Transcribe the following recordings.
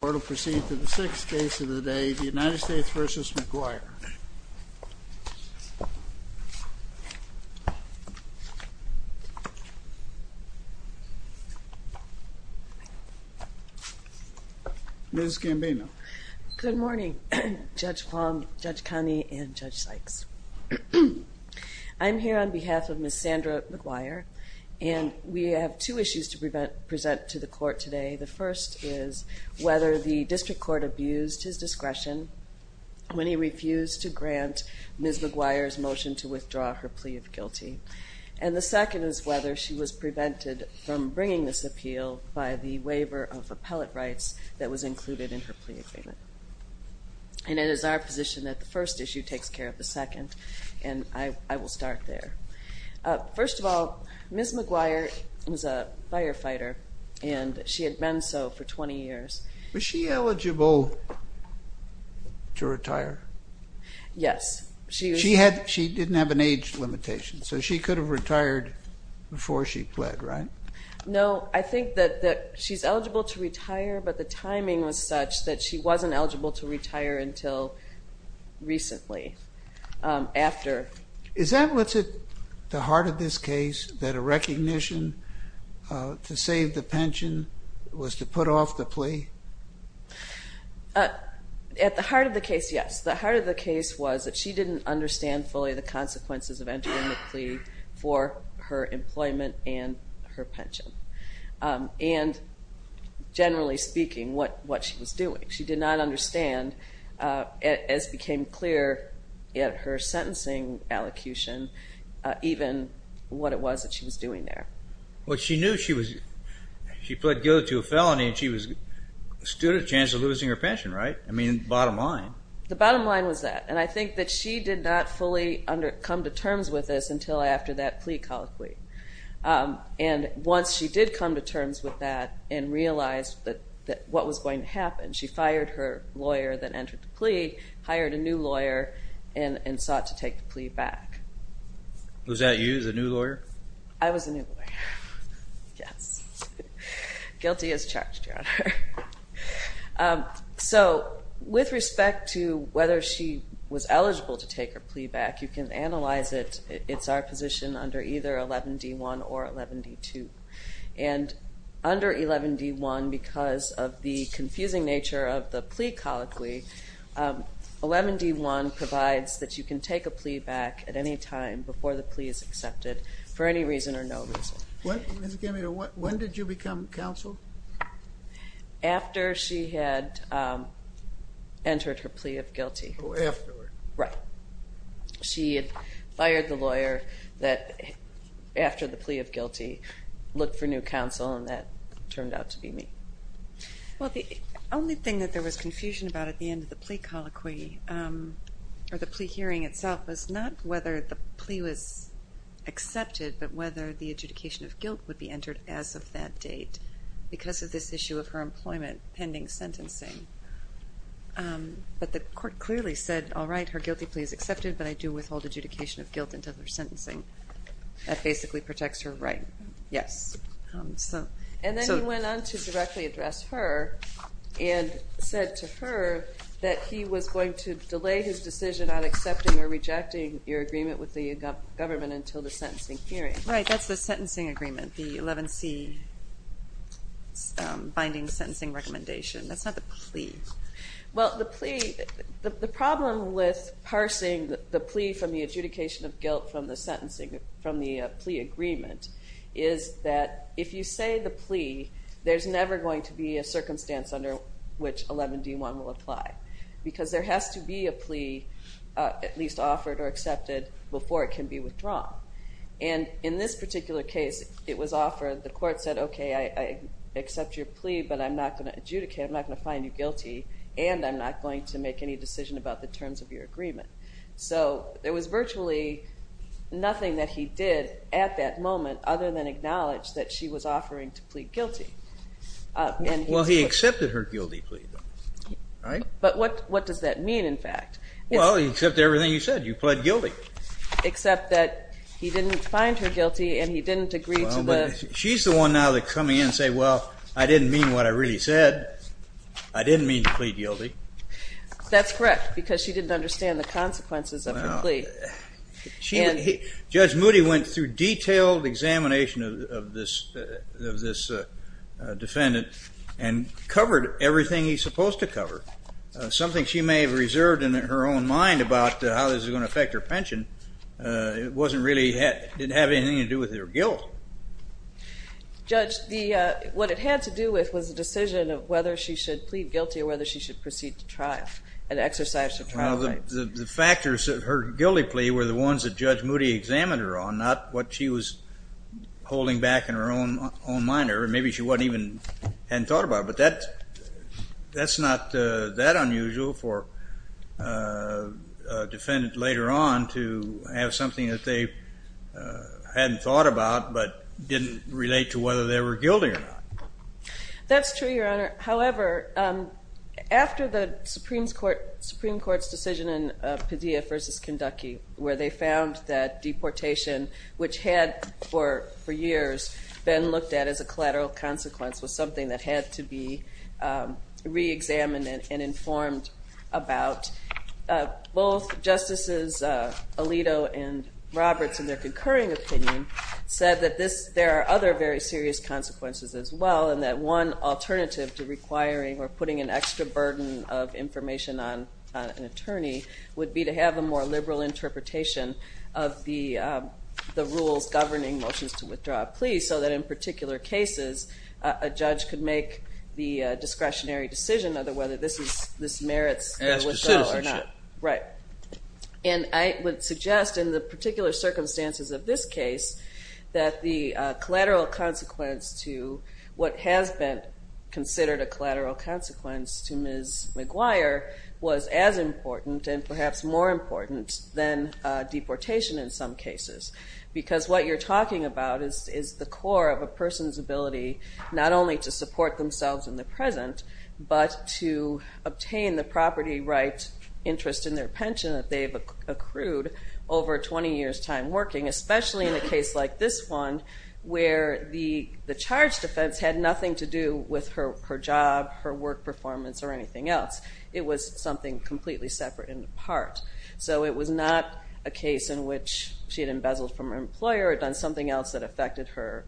The court will proceed to the sixth case of the day, the United States v. McGuire. Ms. Gambino. Good morning, Judge Plum, Judge Connie, and Judge Sykes. I'm here on behalf of Ms. Sandra McGuire, and we have two issues to present to the court today. The first is whether the district court abused his discretion when he refused to grant Ms. McGuire's motion to withdraw her plea of guilty. And the second is whether she was prevented from bringing this appeal by the waiver of appellate rights that was included in her plea agreement. And it is our position that the first issue takes care of the second, and I will start there. First of all, Ms. McGuire was a firefighter, and she had been so for 20 years. Was she eligible to retire? Yes. She didn't have an age limitation, so she could have retired before she pled, right? No, I think that she's eligible to retire, but the timing was such that she wasn't eligible to retire until recently, after. Is that what's at the heart of this case, that a recognition to save the pension was to put off the plea? At the heart of the case, yes. The heart of the case was that she didn't understand fully the consequences of entering the plea for her employment and her pension, and generally speaking, what she was doing. She did not understand, as became clear at her sentencing allocution, even what it was that she was doing there. Well, she knew she was, she pled guilty to a felony, and she stood a chance of losing her pension, right? I mean, bottom line. The bottom line was that, and I think that she did not fully come to terms with this until after that plea colloquy. And once she did come to terms with that and realized what was going to happen, she fired her lawyer that entered the plea, hired a new lawyer, and sought to take the plea back. Was that you, the new lawyer? I was the new lawyer. Guilty as charged, Your Honor. So, with respect to whether she was eligible to take her plea back, you can analyze it. It's our position under either 11D1 or 11D2. And under 11D1, because of the confusing nature of the plea colloquy, 11D1 provides that you can take a plea back at any time before the plea is accepted for any reason or no reason. When did you become counsel? After she had entered her plea of guilty. Afterward. Right. She had fired the lawyer that, after the plea of guilty, looked for new counsel, and that turned out to be me. Well, the only thing that there was confusion about at the end of the plea colloquy, or the plea hearing itself, was not whether the plea was accepted, but whether the adjudication of guilt would be entered as of that date, because of this issue of her employment pending sentencing. But the court clearly said, all right, her guilty plea is accepted, but I do withhold adjudication of guilt until her sentencing. Yes. And then he went on to directly address her and said to her that he was going to delay his decision on accepting or rejecting your agreement with the government until the sentencing hearing. Right. That's the sentencing agreement, the 11C binding sentencing recommendation. That's not the plea. Well, the plea, the problem with parsing the plea from the adjudication of guilt from the sentencing, from the plea agreement, is that if you say the plea, there's never going to be a circumstance under which 11D1 will apply, because there has to be a plea at least offered or accepted before it can be withdrawn. And in this particular case, it was offered. The court said, okay, I accept your plea, but I'm not going to adjudicate, I'm not going to find you guilty, and I'm not going to make any decision about the terms of your agreement. So there was virtually nothing that he did at that moment other than acknowledge that she was offering to plead guilty. Well, he accepted her guilty plea. But what does that mean, in fact? Well, he accepted everything you said. You pled guilty. Except that he didn't find her guilty and he didn't agree to the ---- Well, but she's the one now to come in and say, well, I didn't mean what I really said. I didn't mean to plead guilty. That's correct, because she didn't understand the consequences of her plea. Judge Moody went through detailed examination of this defendant and covered everything he's supposed to cover, something she may have reserved in her own mind about how this is going to affect her pension. It wasn't really ---- it didn't have anything to do with her guilt. Judge, what it had to do with was the decision of whether she should plead guilty or whether she should proceed to trial and exercise her trial rights. Well, the factors of her guilty plea were the ones that Judge Moody examined her on, not what she was holding back in her own mind or maybe she wasn't even ---- hadn't thought about. But that's not that unusual for a defendant later on to have something that they hadn't thought about, but didn't relate to whether they were guilty or not. That's true, Your Honor. However, after the Supreme Court's decision in Padilla v. Kanducky where they found that deportation, which had for years been looked at as a collateral consequence, was something that had to be reexamined and informed about, both Justices Alito and Roberts in their concurring opinion said that there are other very serious consequences as well and that one alternative to requiring or putting an extra burden of information on an attorney would be to have a more liberal interpretation of the rules governing motions to withdraw a plea so that in particular cases a judge could make the discretionary decision of whether this merits withdrawal or not. As for citizenship. Right. And I would suggest in the particular circumstances of this case that the collateral consequence to what has been considered a collateral consequence to Ms. McGuire was as important and perhaps more important than deportation in some cases because what you're talking about is the core of a person's ability not only to support themselves in the present but to obtain the property rights interest in their pension that they've accrued over 20 years' time working, especially in a case like this one where the charge defense had nothing to do with her job, her work performance, or anything else. It was something completely separate and apart. So it was not a case in which she had embezzled from her employer or done something else that affected her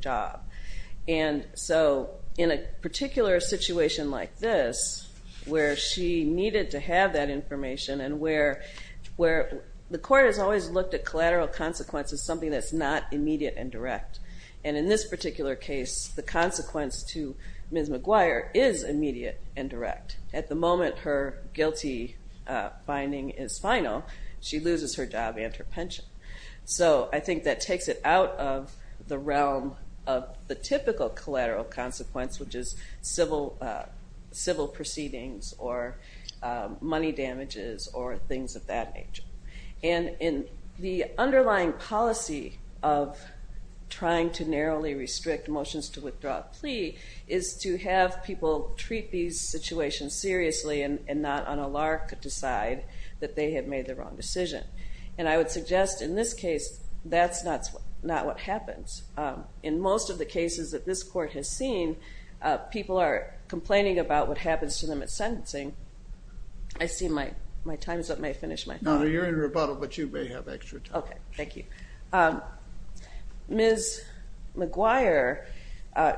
job. And so in a particular situation like this where she needed to have that information and where the court has always looked at collateral consequences as something that's not immediate and direct. And in this particular case the consequence to Ms. McGuire is immediate and direct. At the moment her guilty finding is final. She loses her job and her pension. So I think that takes it out of the realm of the typical collateral consequence, which is civil proceedings or money damages or things of that nature. And in the underlying policy of trying to narrowly restrict motions to withdraw a plea is to have people treat these situations seriously and not on a lark to decide that they have made the wrong decision. And I would suggest in this case that's not what happens. In most of the cases that this court has seen, people are complaining about what happens to them at sentencing. I see my time's up. May I finish my thought? No, you're in rebuttal, but you may have extra time. Okay, thank you. Ms. McGuire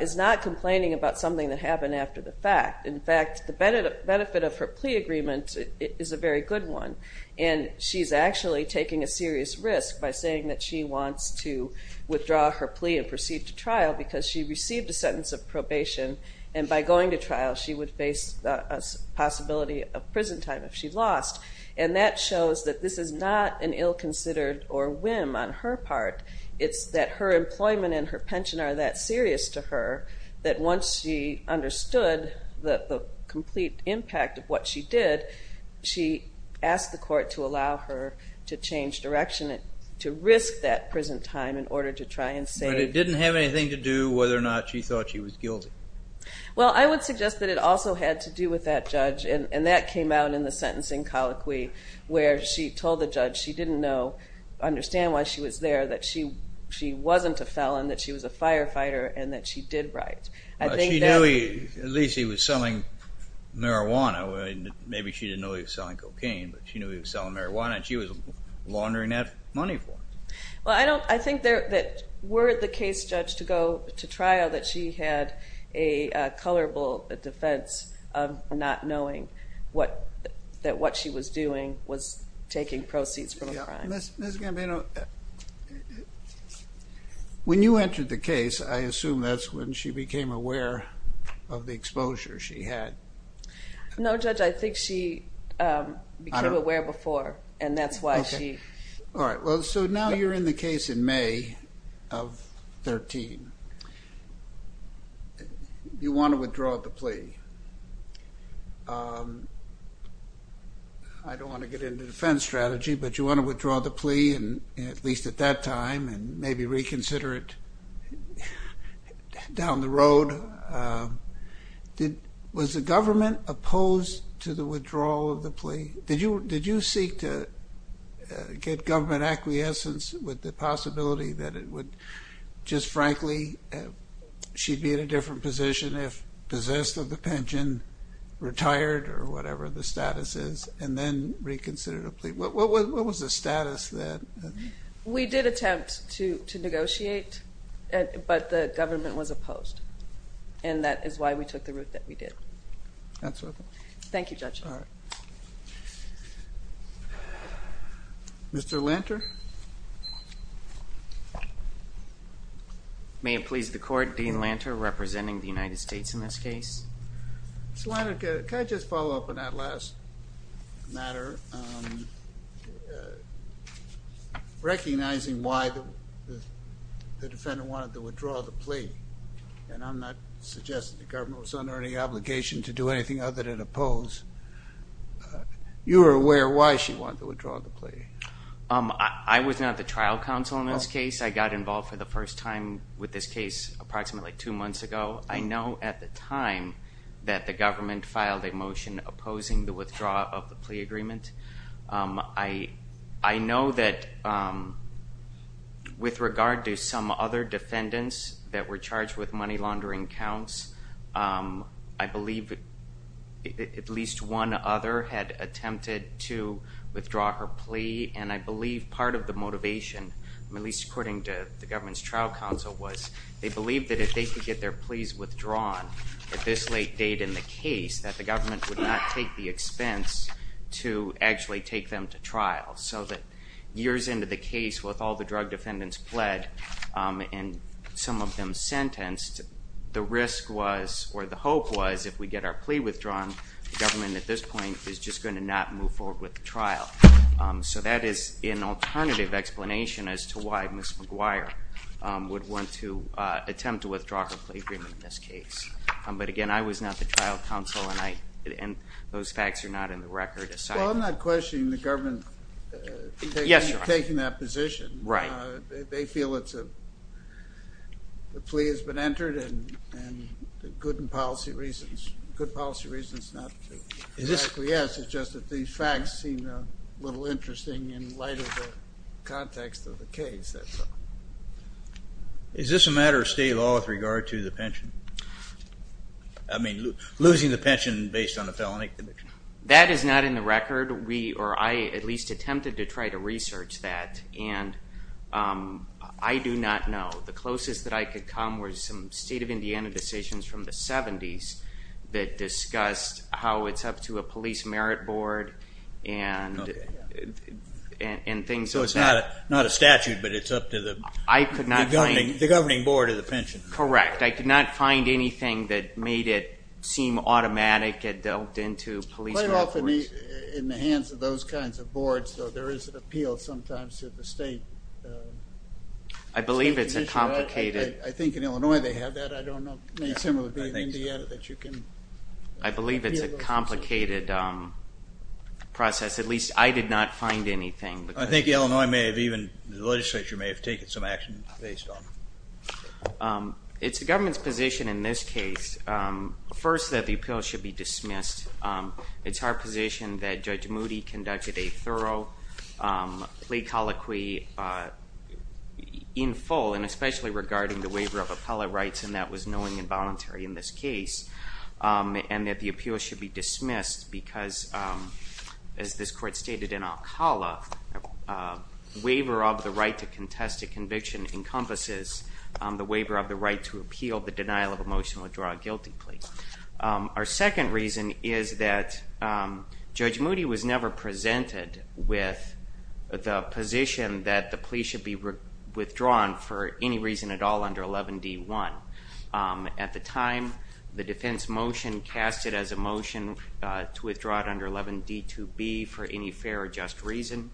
is not complaining about something that happened after the fact. In fact, the benefit of her plea agreement is a very good one, and she's actually taking a serious risk by saying that she wants to withdraw her plea and proceed to trial because she received a sentence of probation, and by going to trial she would face a possibility of prison time if she lost. And that shows that this is not an ill-considered or whim on her part. It's that her employment and her pension are that serious to her that once she understood the complete impact of what she did, she asked the court to allow her to change direction and to risk that prison time in order to try and save. But it didn't have anything to do whether or not she thought she was guilty. Well, I would suggest that it also had to do with that judge, and that came out in the sentencing colloquy where she told the judge she didn't understand why she was there, that she wasn't a felon, that she was a firefighter, and that she did riot. She knew at least he was selling marijuana. Maybe she didn't know he was selling cocaine, but she knew he was selling marijuana, and she was laundering that money for him. Well, I think that were the case, Judge, to go to trial, that she had a colorable defense of not knowing that what she was doing was taking proceeds from a crime. Ms. Gambino, when you entered the case, I assume that's when she became aware of the exposure she had. No, Judge, I think she became aware before, and that's why she... All right, well, so now you're in the case in May of 13. You want to withdraw the plea. I don't want to get into defense strategy, but you want to withdraw the plea, at least at that time, and maybe reconsider it down the road. Was the government opposed to the withdrawal of the plea? Did you seek to get government acquiescence with the possibility that it would, just frankly, she'd be in a different position if possessed of the pension, retired or whatever the status is, and then reconsider the plea? What was the status then? We did attempt to negotiate, but the government was opposed, and that is why we took the route that we did. That's all. Thank you, Judge. All right. Mr. Lanter? May it please the Court, Dean Lanter representing the United States in this case. Mr. Lanter, can I just follow up on that last matter? Recognizing why the defendant wanted to withdraw the plea, and I'm not suggesting the government was under any obligation to do anything other than oppose, you were aware why she wanted to withdraw the plea. I was not the trial counsel in this case. I got involved for the first time with this case approximately two months ago. I know at the time that the government filed a motion opposing the withdrawal of the plea agreement. I know that with regard to some other defendants that were charged with money laundering counts, I believe at least one other had attempted to withdraw her plea, and I believe part of the motivation, at least according to the government's trial counsel, was they believed that if they could get their pleas withdrawn at this late date in the case, that the government would not take the expense to actually take them to trial, so that years into the case with all the drug defendants pled and some of them sentenced, the risk was, or the hope was, if we get our plea withdrawn, the government at this point is just going to not move forward with the trial. So that is an alternative explanation as to why Ms. McGuire would want to attempt to withdraw her plea agreement in this case. But, again, I was not the trial counsel, and those facts are not in the record. Well, I'm not questioning the government taking that position. Right. They feel the plea has been entered, and good policy reasons not to. Yes, it's just that these facts seem a little interesting in light of the context of the case. Is this a matter of state law with regard to the pension? I mean, losing the pension based on a felony conviction? That is not in the record. We, or I, at least attempted to try to research that, and I do not know. The closest that I could come was some state of Indiana decisions from the 70s that discussed how it's up to a police merit board and things. So it's not a statute, but it's up to the governing board of the pension. Correct. I could not find anything that made it seem automatic and dealt into police records. Quite often in the hands of those kinds of boards, though, there is an appeal sometimes to the state commission. I believe it's a complicated. I think in Illinois they have that. I don't know. It may similarly be in Indiana that you can appeal those things. I believe it's a complicated process. At least I did not find anything. I think Illinois may have even, the legislature may have taken some action based on it. It's the government's position in this case, first, that the appeal should be dismissed. It's our position that Judge Moody conducted a thorough plea colloquy in full, and especially regarding the waiver of appellate rights, and that was knowing and voluntary in this case, and that the appeal should be dismissed because, as this court stated in Alcala, a waiver of the right to contest a conviction encompasses the waiver of the right to appeal the denial of emotional withdrawal guilty plea. Our second reason is that Judge Moody was never presented with the position that the plea should be withdrawn for any reason at all under 11d.1. At the time, the defense motion cast it as a motion to withdraw it under 11d.2b for any fair or just reason,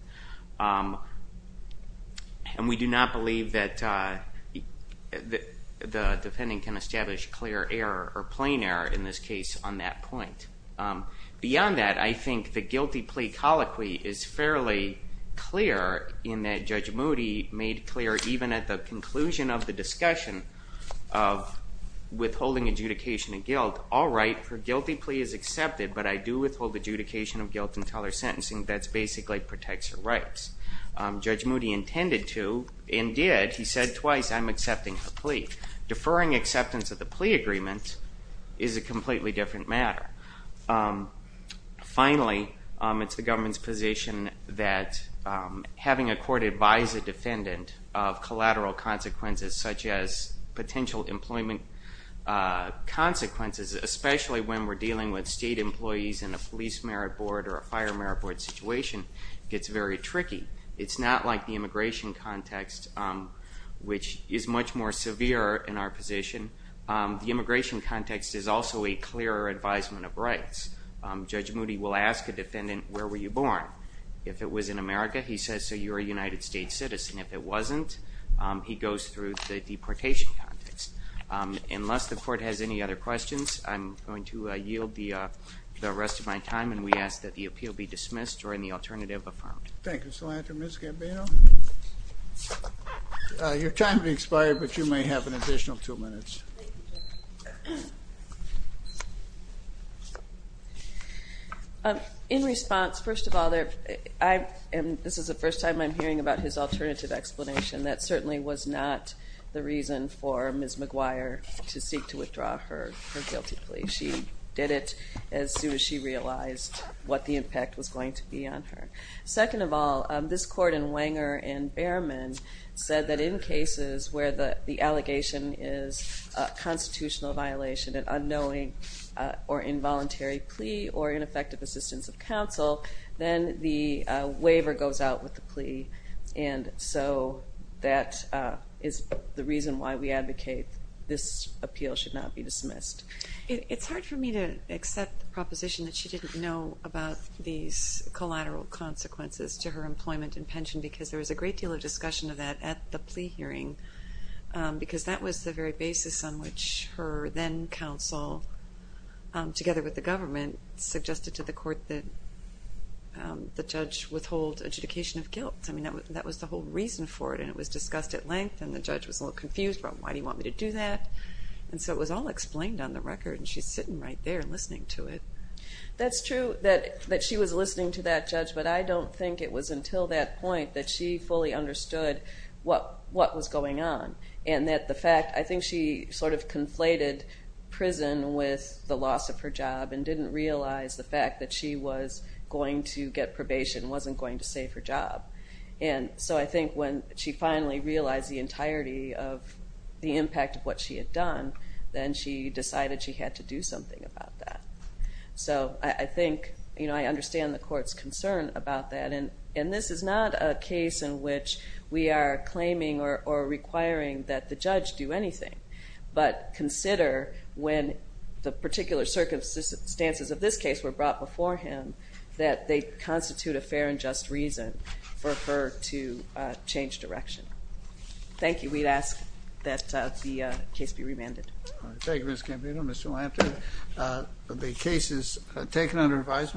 and we do not believe that the defendant can establish clear error or plain error in this case on that point. Beyond that, I think the guilty plea colloquy is fairly clear in that Judge Moody made clear, even at the conclusion of the discussion of withholding adjudication of guilt, all right, her guilty plea is accepted, but I do withhold adjudication of guilt until her sentencing. That basically protects her rights. Judge Moody intended to and did. He said twice, I'm accepting her plea. Deferring acceptance of the plea agreement is a completely different matter. Finally, it's the government's position that having a court advise a defendant of collateral consequences such as potential employment consequences, especially when we're dealing with state employees in a police merit board or a fire merit board situation, gets very tricky. It's not like the immigration context, which is much more severe in our position. The immigration context is also a clearer advisement of rights. Judge Moody will ask a defendant, where were you born? If it was in America, he says, so you're a United States citizen. If it wasn't, he goes through the deportation context. Unless the court has any other questions, I'm going to yield the rest of my time, and we ask that the appeal be dismissed or any alternative affirmed. Thank you, Mr. Lantern. Ms. Gambino? Your time has expired, but you may have an additional two minutes. In response, first of all, this is the first time I'm hearing about his alternative explanation. That certainly was not the reason for Ms. McGuire to seek to withdraw her guilty plea. She did it as soon as she realized what the impact was going to be on her. Second of all, this court in Wenger and Behrman said that in cases where the allegation is a constitutional violation, an unknowing or involuntary plea or ineffective assistance of counsel, then the waiver goes out with the plea, and so that is the reason why we advocate this appeal should not be dismissed. It's hard for me to accept the proposition that she didn't know about these collateral consequences to her employment and pension because there was a great deal of discussion of that at the plea hearing, because that was the very basis on which her then-counsel, together with the government, suggested to the court that the judge withhold adjudication of guilt. I mean, that was the whole reason for it, and it was discussed at length, and the judge was a little confused about why do you want me to do that, and so it was all explained on the record, and she's sitting right there listening to it. That's true that she was listening to that judge, but I don't think it was until that point that she fully understood what was going on, and that the fact, I think she sort of conflated prison with the loss of her job and didn't realize the fact that she was going to get probation, wasn't going to save her job, and so I think when she finally realized the entirety of the impact of what she had done, then she decided she had to do something about that. So I think, you know, I understand the court's concern about that, and this is not a case in which we are claiming or requiring that the judge do anything, but consider when the particular circumstances of this case were brought before him that they constitute a fair and just reason for her to change direction. Thank you. We ask that the case be remanded. Thank you, Ms. Campito. Mr. Lampton, the case is taken under advisement.